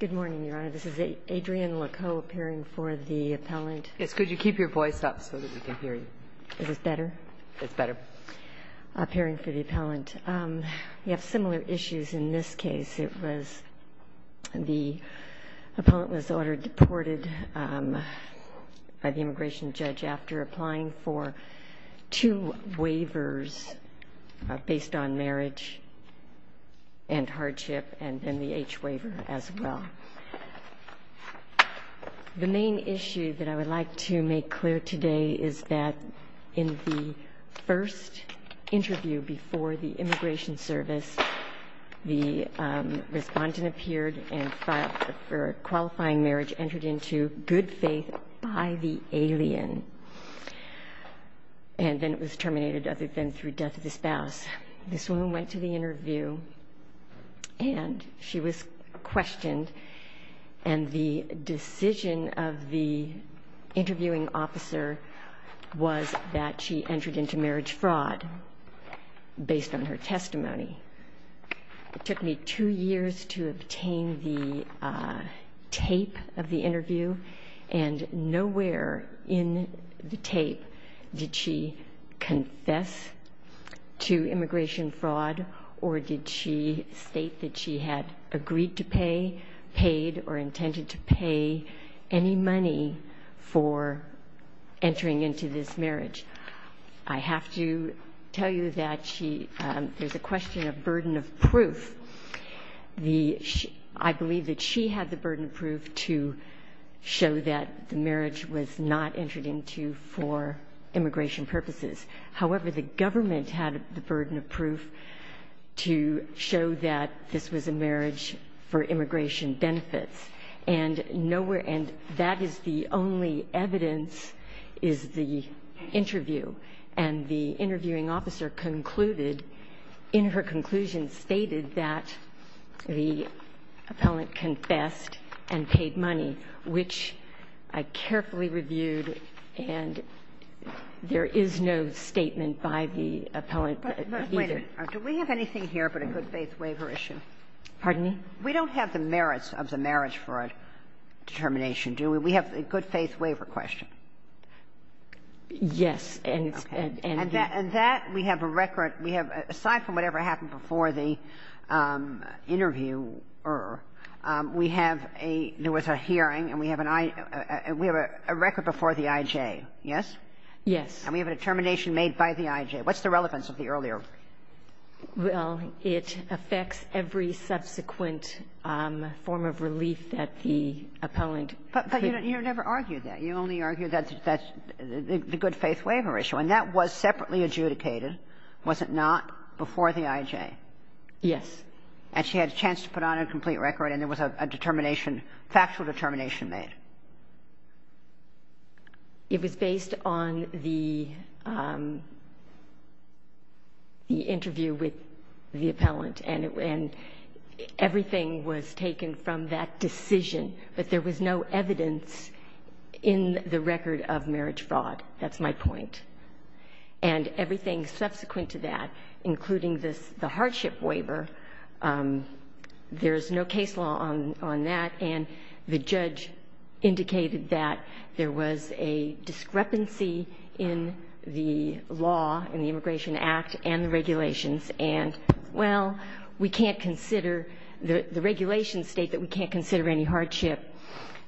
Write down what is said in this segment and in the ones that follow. Good morning, Your Honor. This is Adrienne Lecoe appearing for the appellant. Yes, could you keep your voice up so that we can hear you? Is this better? It's better. Appearing for the appellant. We have similar issues in this case. It was the appellant was ordered deported by the immigration judge after applying for two waivers based on marriage and hardship, and then the H waiver as well. The main issue that I would like to make clear today is that in the first interview before the immigration service, the respondent appeared and filed for qualifying marriage entered into good faith by the alien, and then it was terminated other than through death of the spouse. This woman went to the interview, and she was questioned, and the decision of the interviewing officer was that she entered into marriage fraud based on her testimony. It took me two years to obtain the tape of the interview, and nowhere in the tape did she confess to immigration fraud or did she state that she had agreed to pay, paid, or intended to pay any money for entering into this marriage. I have to tell you that there's a question of burden of proof. I believe that she had the burden of proof to show that the marriage was not entered into for immigration purposes. However, the government had the burden of proof to show that this was a marriage for immigration benefits. And nowhere – and that is the only evidence is the interview. And the interviewing officer concluded, in her conclusion, stated that the appellant confessed and paid money, which I carefully reviewed, and there is no statement by the appellant either. But wait a minute. Do we have anything here but a good faith waiver issue? Pardon me? We don't have the merits of the marriage fraud determination, do we? We have a good faith waiver question. Yes. Okay. And that we have a record. We have, aside from whatever happened before the interviewer, we have a – there was a hearing and we have an I – we have a record before the IJ, yes? Yes. And we have a determination made by the IJ. What's the relevance of the earlier? Well, it affects every subsequent form of relief that the appellant – But you never argued that. You only argued that the good faith waiver issue. And that was separately adjudicated, was it not, before the IJ? Yes. And she had a chance to put on a complete record and there was a determination – factual determination made. It was based on the interview with the appellant. And everything was taken from that decision, but there was no evidence in the record of marriage fraud. That's my point. And everything subsequent to that, including this – the hardship waiver, there's no case law on that. And the judge indicated that there was a discrepancy in the law, in the Immigration Act, and the regulations. And, well, we can't consider – the regulations state that we can't consider any hardship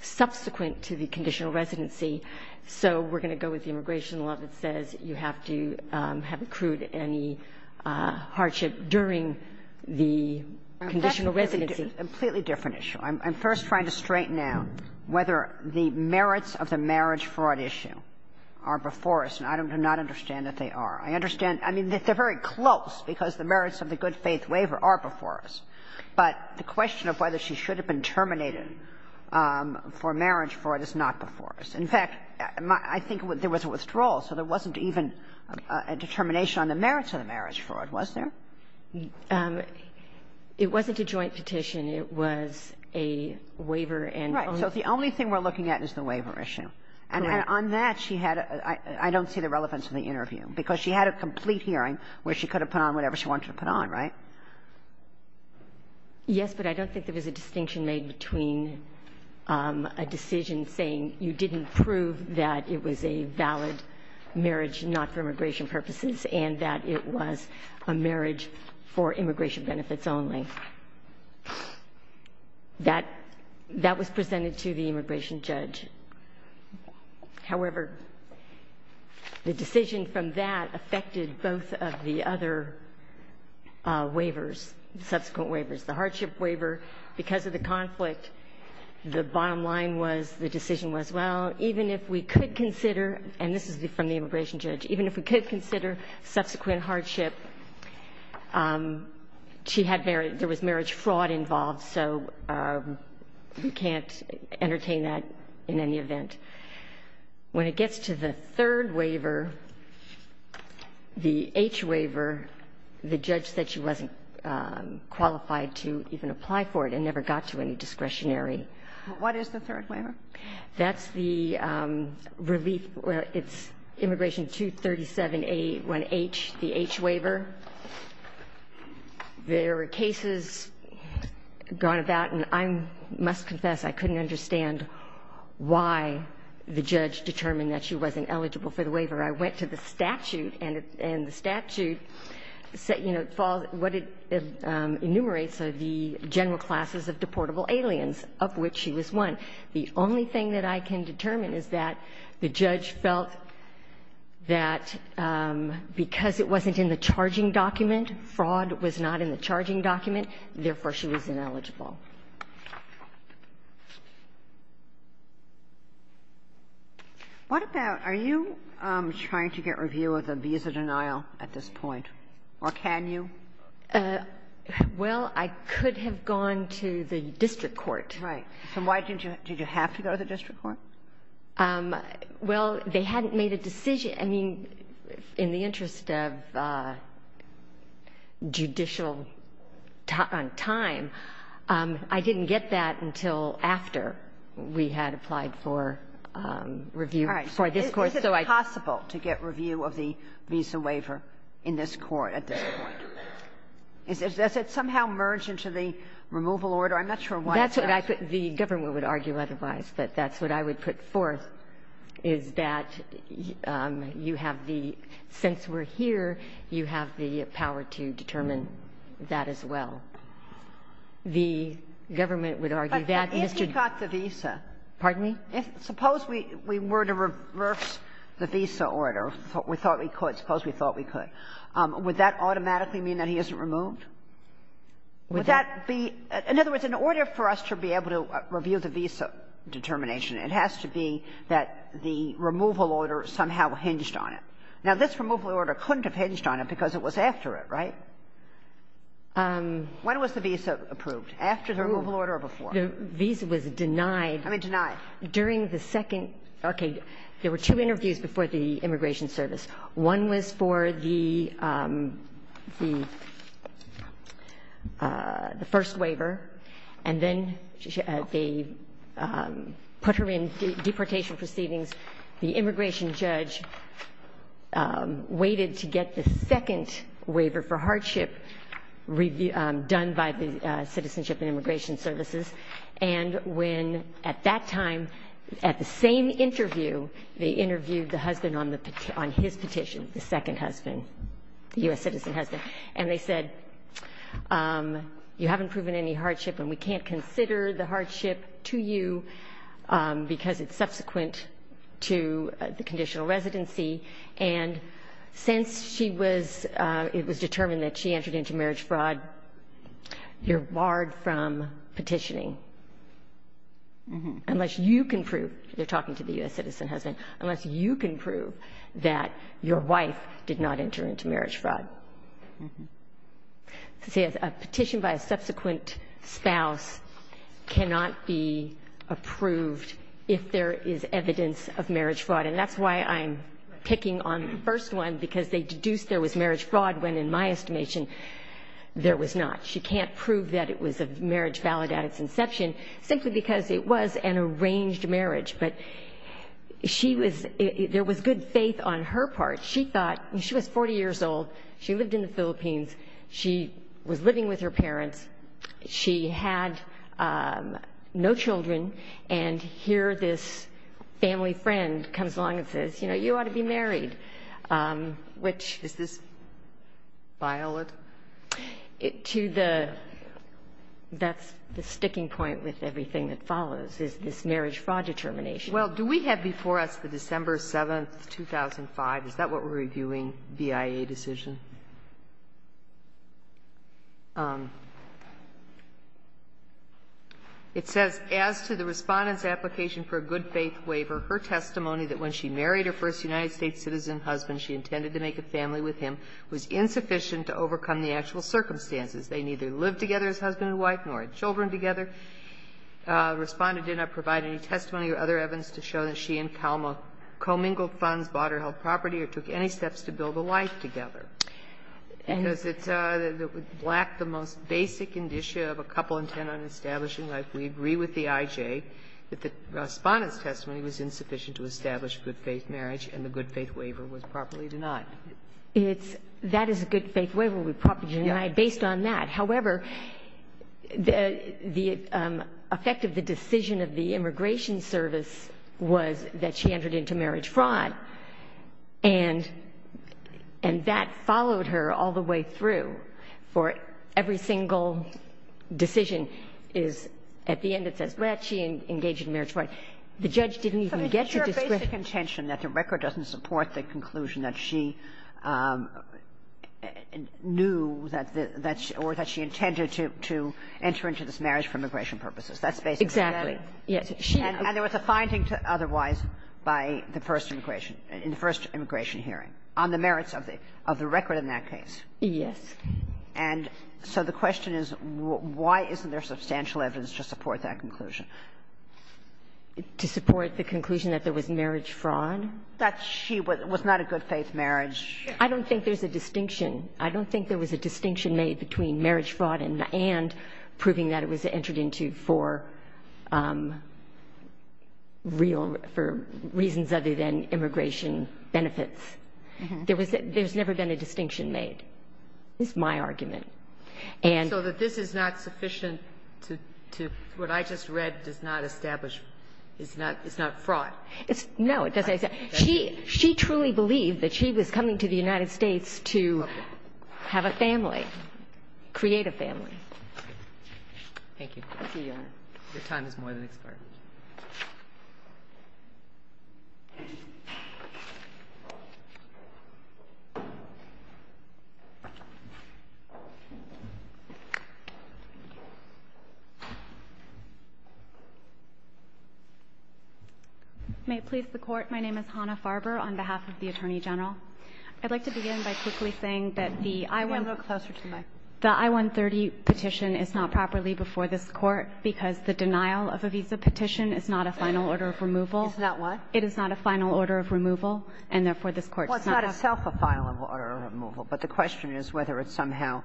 subsequent to the conditional residency. So we're going to go with the Immigration Law that says you have to have accrued any hardship during the conditional residency. It's a completely different issue. I'm first trying to straighten out whether the merits of the marriage fraud issue are before us. And I do not understand that they are. I understand – I mean, they're very close because the merits of the good faith waiver are before us. But the question of whether she should have been terminated for marriage fraud is not before us. In fact, I think there was a withdrawal, so there wasn't even a determination on the merits of the marriage fraud, was there? It wasn't a joint petition. It was a waiver and – Right. So the only thing we're looking at is the waiver issue. Correct. And on that, she had a – I don't see the relevance of the interview, because she had a complete hearing where she could have put on whatever she wanted to put on, right? Yes, but I don't think there was a distinction made between a decision saying you didn't prove that it was a valid marriage not for immigration purposes and that it was a marriage for immigration benefits only. That was presented to the immigration judge. However, the decision from that affected both of the other waivers, subsequent waivers. The hardship waiver, because of the conflict, the bottom line was the decision was, well, even if we could consider – and this is from the immigration judge – even if we could consider subsequent hardship, she had – there was marriage fraud involved, so we can't entertain that in any event. When it gets to the third waiver, the H waiver, the judge said she wasn't qualified to even apply for it and never got to any discretionary. What is the third waiver? That's the relief – well, it's immigration 237A1H, the H waiver. There were cases gone about, and I must confess I couldn't understand why the judge determined that she wasn't eligible for the waiver. I went to the statute, and the statute, you know, what it enumerates are the general classes of deportable aliens, of which she was one. The only thing that I can determine is that the judge felt that because it wasn't in the charging document, fraud was not in the charging document, therefore, she was ineligible. What about – are you trying to get review of the visa denial at this point, or can you? Well, I could have gone to the district court. Right. And why didn't you – did you have to go to the district court? Well, they hadn't made a decision. I mean, in the interest of judicial time, I didn't get that until after we had applied for review for this court. All right. So is it possible to get review of the visa waiver in this court at this point? Does it somehow merge into the removal order? I'm not sure why it does. Well, that's what I put – the government would argue otherwise, but that's what I would put forth, is that you have the – since we're here, you have the power to determine that as well. The government would argue that Mr. — But if you got the visa — Pardon me? Suppose we were to reverse the visa order. We thought we could. Suppose we thought we could. Would that automatically mean that he isn't removed? Would that be – in other words, in order for us to be able to review the visa determination, it has to be that the removal order somehow hinged on it. Now, this removal order couldn't have hinged on it because it was after it, right? When was the visa approved? After the removal order or before? The visa was denied. I mean, denied. During the second – okay. There were two interviews before the Immigration Service. One was for the first waiver, and then they put her in deportation proceedings. The immigration judge waited to get the second waiver for hardship done by the Citizenship and Immigration Services, and when – at that time, at the same interview, they interviewed the husband on the – on his petition, the second husband, the U.S. citizen husband. And they said, you haven't proven any hardship and we can't consider the hardship to you because it's subsequent to the conditional residency. And since she was – it was determined that she entered into marriage fraud, you're barred from petitioning unless you can prove – they're talking to the U.S. citizen husband – unless you can prove that your wife did not enter into marriage fraud. See, a petition by a subsequent spouse cannot be approved if there is evidence of marriage fraud, and that's why I'm picking on the first one because they deduced there was marriage fraud when, in my estimation, there was not. She can't prove that it was a marriage valid at its inception simply because it was an She was – there was good faith on her part. She thought – I mean, she was 40 years old. She lived in the Philippines. She was living with her parents. She had no children, and here this family friend comes along and says, you know, you ought to be married, which – Is this violent? To the – that's the sticking point with everything that follows is this marriage fraud determination. Well, do we have before us the December 7th, 2005? Is that what we're reviewing, BIA decision? It says, As to the Respondent's application for a good faith waiver, her testimony that when she married her first United States citizen husband, she intended to make a family with him was insufficient to overcome the actual circumstances. They neither lived together as husband and wife nor had children together. The Respondent did not provide any testimony or other evidence to show that she and Kalma commingled funds, bought or held property, or took any steps to build a life together. Because it's – it would lack the most basic indicia of a couple intent on establishing life, we agree with the IJ that the Respondent's testimony was insufficient to establish good faith marriage, and the good faith waiver was properly denied. It's – that is a good faith waiver would be properly denied based on that. However, the effect of the decision of the Immigration Service was that she entered into marriage fraud, and that followed her all the way through. For every single decision is – at the end it says, well, she engaged in marriage fraud. The judge didn't even get to discredit her. But is there a basic intention that the record doesn't support the conclusion that she knew that the – or that she intended to enter into this marriage for immigration purposes? That's basically it. Exactly. Yes. And there was a finding to otherwise by the first immigration – in the first immigration hearing on the merits of the record in that case. Yes. And so the question is, why isn't there substantial evidence to support that conclusion? To support the conclusion that there was marriage fraud? That she was not a good faith marriage. I don't think there's a distinction. I don't think there was a distinction made between marriage fraud and proving that it was entered into for real – for reasons other than immigration benefits. There was – there's never been a distinction made, is my argument. And so that this is not sufficient to – what I just read does not establish – is not fraud. It's – no, it doesn't. She truly believed that she was coming to the United States to have a family, create a family. Thank you. Thank you, Your Honor. Your time is more than expired. May it please the Court. My name is Hannah Farber on behalf of the Attorney General. I'd like to begin by quickly saying that the I-130 petition is not properly before this Court because the denial of a visa petition is not a final order of removal. It's not what? It is not a final order of removal, and therefore, this Court does not have to – Well, it's not itself a final order of removal. But the question is whether it somehow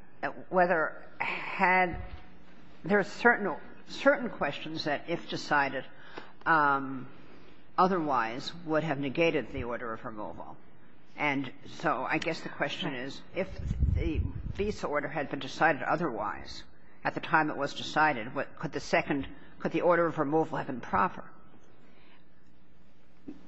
– whether had – there are certain – certain questions that if decided otherwise would have negated the order of removal. And so I guess the question is if the visa order had been decided otherwise at the time it was decided, what – could the second – could the order of removal have been proper?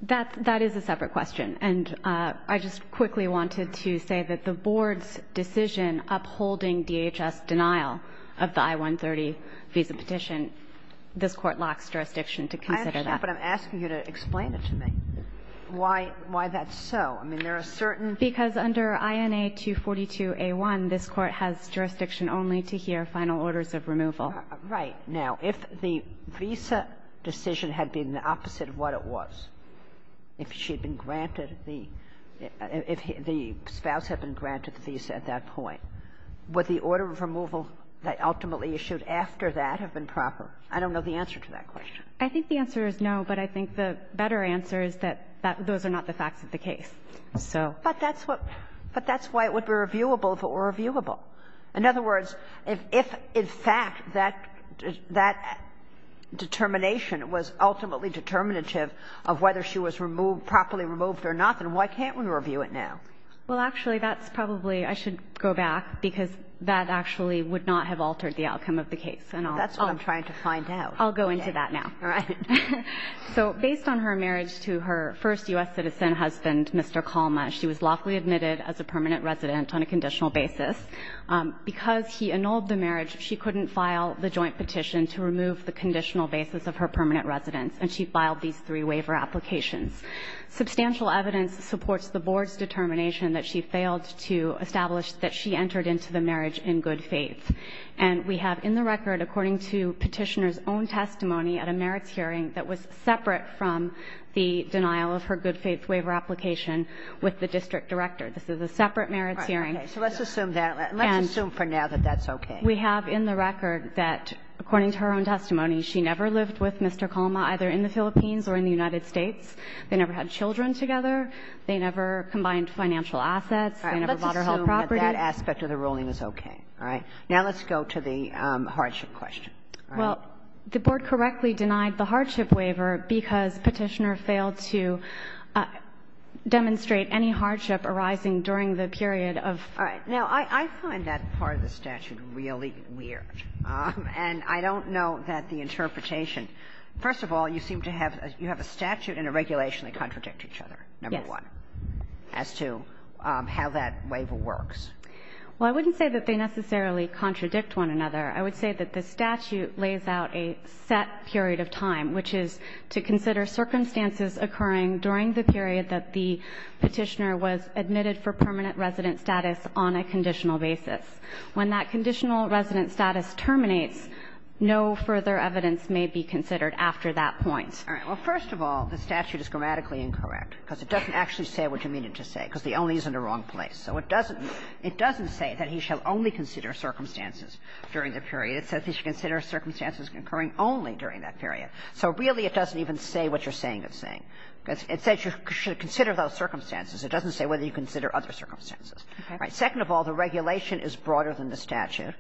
That – that is a separate question. And I just quickly wanted to say that the Board's decision upholding DHS denial of the I-130 visa petition, this Court locks jurisdiction to consider that. I understand, but I'm asking you to explain it to me, why – why that's so. I mean, there are certain – Because under INA 242a1, this Court has jurisdiction only to hear final orders of removal. Right. Now, if the visa decision had been the opposite of what it was, if she had been granted the – if the spouse had been granted the visa at that point, would the order of removal that ultimately issued after that have been proper? I don't know the answer to that question. I think the answer is no, but I think the better answer is that those are not the facts of the case. So – But that's what – but that's why it would be reviewable if it were reviewable. In other words, if in fact that – that determination was ultimately determinative of whether she was removed – properly removed or not, then why can't we review it now? Well, actually, that's probably – I should go back, because that actually would not have altered the outcome of the case, and I'll – That's what I'm trying to find out. I'll go into that now. All right. So based on her marriage to her first U.S. citizen husband, Mr. Kalma, she was lawfully admitted as a permanent resident on a conditional basis. Because he annulled the marriage, she couldn't file the joint petition to remove the conditional basis of her permanent residence, and she filed these three waiver applications. Substantial evidence supports the Board's determination that she failed to establish that she entered into the marriage in good faith, and we have in the record, according to Petitioner's own testimony at a merits hearing, that was separate from the denial of her good faith waiver application with the district director. This is a separate merits hearing. All right. Okay. So let's assume that. Let's assume for now that that's okay. We have in the record that, according to her own testimony, she never lived with Mr. Kalma, either in the Philippines or in the United States. They never had children together. They never combined financial assets. They never bought or held property. All right. Let's assume that that aspect of the ruling is okay. All right. Now let's go to the hardship question. All right. Well, the Board correctly denied the hardship waiver because Petitioner failed to demonstrate any hardship arising during the period of. All right. Now, I find that part of the statute really weird. And I don't know that the interpretation. First of all, you seem to have you have a statute and a regulation that contradict each other, number one, as to how that waiver works. Well, I wouldn't say that they necessarily contradict one another. I would say that the statute lays out a set period of time, which is to consider circumstances occurring during the period that the Petitioner was admitted for permanent resident status on a conditional basis. When that conditional resident status terminates, no further evidence may be considered after that point. All right. Well, first of all, the statute is grammatically incorrect, because it doesn't actually say what you mean it to say, because the only is in the wrong place. So it doesn't say that he shall only consider circumstances during the period. It says he should consider circumstances occurring only during that period. So really, it doesn't even say what you're saying it's saying. It says you should consider those circumstances. It doesn't say whether you consider other circumstances. All right. Second of all, the regulation is broader than the statute.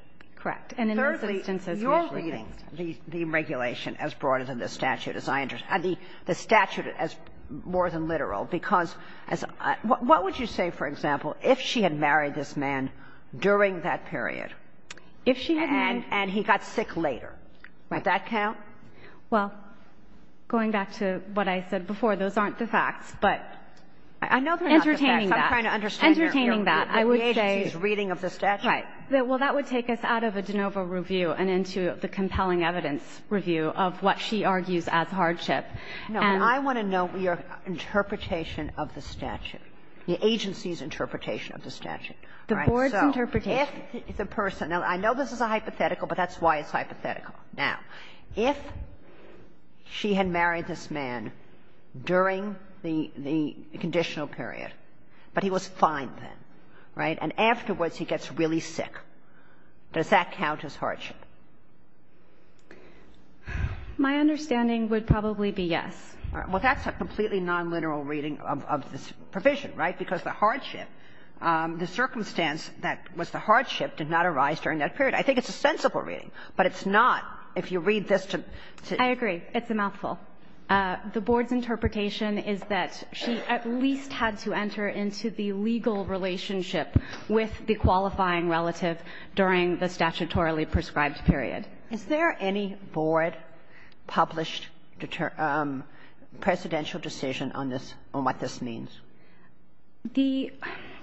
And in those instances, we actually think the statute is broader than the statute. And thirdly, you're reading the regulation as broader than the statute, as I understand the statute as more than literal, because as what would you say, for example, if she had married this man during that period? If she had married the man during that period, and he got sick later, would that count? Well, going back to what I said before, those aren't the facts, but I know they're not the facts. Entertaining that. I'm trying to understand your view of the agency's reading of the statute. Right. Well, that would take us out of a De Novo review and into the compelling evidence review of what she argues as hardship. And I want to know your interpretation of the statute, the agency's interpretation of the statute. All right. So if the person – now, I know this is a hypothetical, but that's why it's hypothetical. Now, if she had married this man during the conditional period, but he was fine then, right, and afterwards he gets really sick, does that count as hardship? My understanding would probably be yes. Well, that's a completely non-literal reading of this provision, right, because the hardship, the circumstance that was the hardship did not arise during that period. I think it's a sensible reading, but it's not if you read this to the – I agree. It's a mouthful. The Board's interpretation is that she at least had to enter into the legal relationship with the qualifying relative during the statutorily prescribed period. Is there any Board-published presidential decision on this, on what this means? The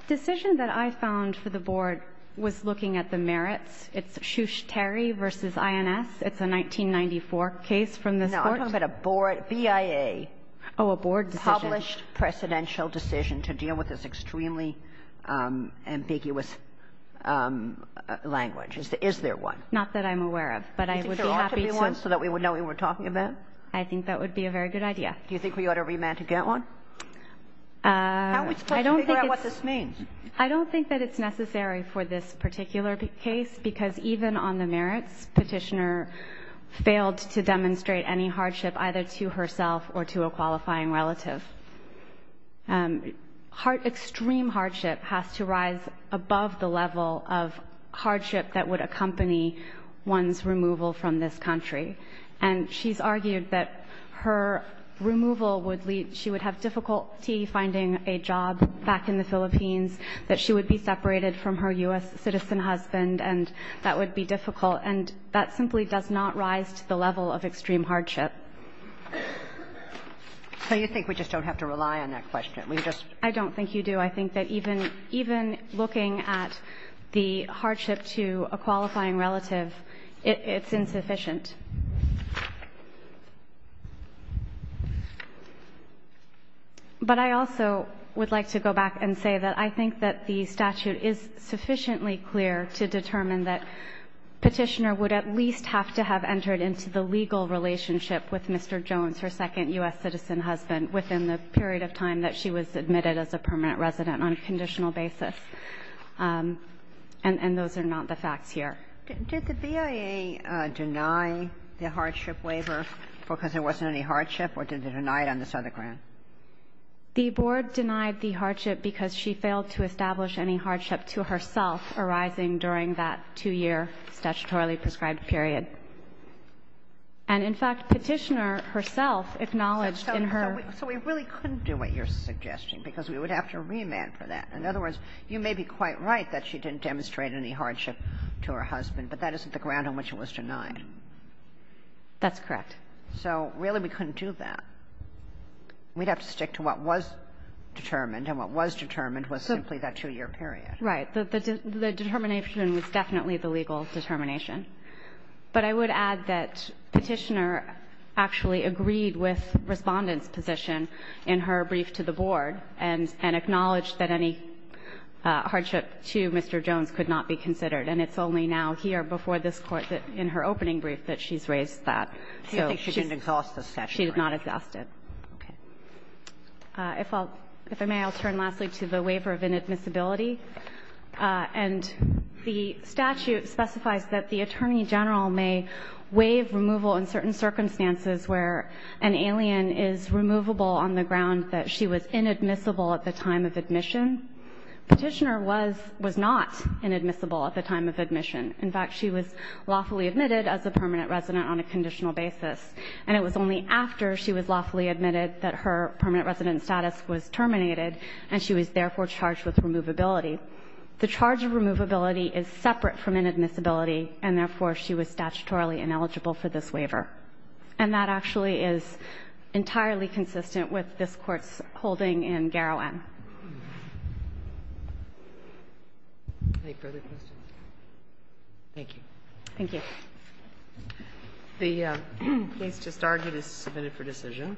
decision that I found for the Board was looking at the merits. It's Shushteri v. INS. It's a 1994 case from this Court. No, I'm talking about a Board – BIA. Oh, a Board decision. Published presidential decision to deal with this extremely ambiguous language. Is there one? Not that I'm aware of, but I would be happy to – Do you think there ought to be one so that we would know what we're talking about? I think that would be a very good idea. Do you think we ought to remand to get one? How are we supposed to figure out what this means? I don't think that it's necessary for this particular case, because even on the merits, Petitioner failed to demonstrate any hardship either to herself or to a qualifying relative. Extreme hardship has to rise above the level of hardship that would accompany one's removal from this country. And she's argued that her removal would lead – she would have difficulty finding a job back in the Philippines, that she would be separated from her U.S. citizen husband, and that would be difficult. And that simply does not rise to the level of extreme hardship. So you think we just don't have to rely on that question? We just – I don't think you do. I think that even – even looking at the hardship to a qualifying relative, it's insufficient. But I also would like to go back and say that I think that the statute is sufficiently clear to determine that Petitioner would at least have to have entered into the legal relationship with Mr. Jones, her second U.S. citizen husband, within the period of time that she was admitted as a permanent resident on a conditional basis. And those are not the facts here. Did the BIA deny the hardship waiver because there wasn't any hardship, or did they deny it on the Southern ground? The Board denied the hardship because she failed to establish any hardship to herself arising during that two-year statutorily prescribed period. And, in fact, Petitioner herself acknowledged in her – So we really couldn't do what you're suggesting, because we would have to remand for that. In other words, you may be quite right that she didn't demonstrate any hardship to her husband, but that isn't the ground on which it was denied. That's correct. So really we couldn't do that. We'd have to stick to what was determined, and what was determined was simply that two-year period. Right. The determination was definitely the legal determination. But I would add that Petitioner actually agreed with Respondent's position in her brief to the Board and acknowledged that any hardship to Mr. Jones could not be considered. And it's only now here before this Court that, in her opening brief, that she's raised that. So she's – So you think she didn't exhaust the statute? She did not exhaust it. Okay. If I'll – if I may, I'll turn lastly to the waiver of inadmissibility. And the statute specifies that the Attorney General may waive removal in certain circumstances where an alien is removable on the ground that she was inadmissible at the time of admission. Petitioner was – was not inadmissible at the time of admission. In fact, she was lawfully admitted as a permanent resident on a conditional basis. And it was only after she was lawfully admitted that her permanent resident status was terminated, and she was therefore charged with removability. The charge of removability is separate from inadmissibility, and therefore she was statutorily ineligible for this waiver. And that actually is entirely consistent with this Court's holding in Garrowen. Any further questions? Thank you. Thank you. The case just argued is submitted for decision.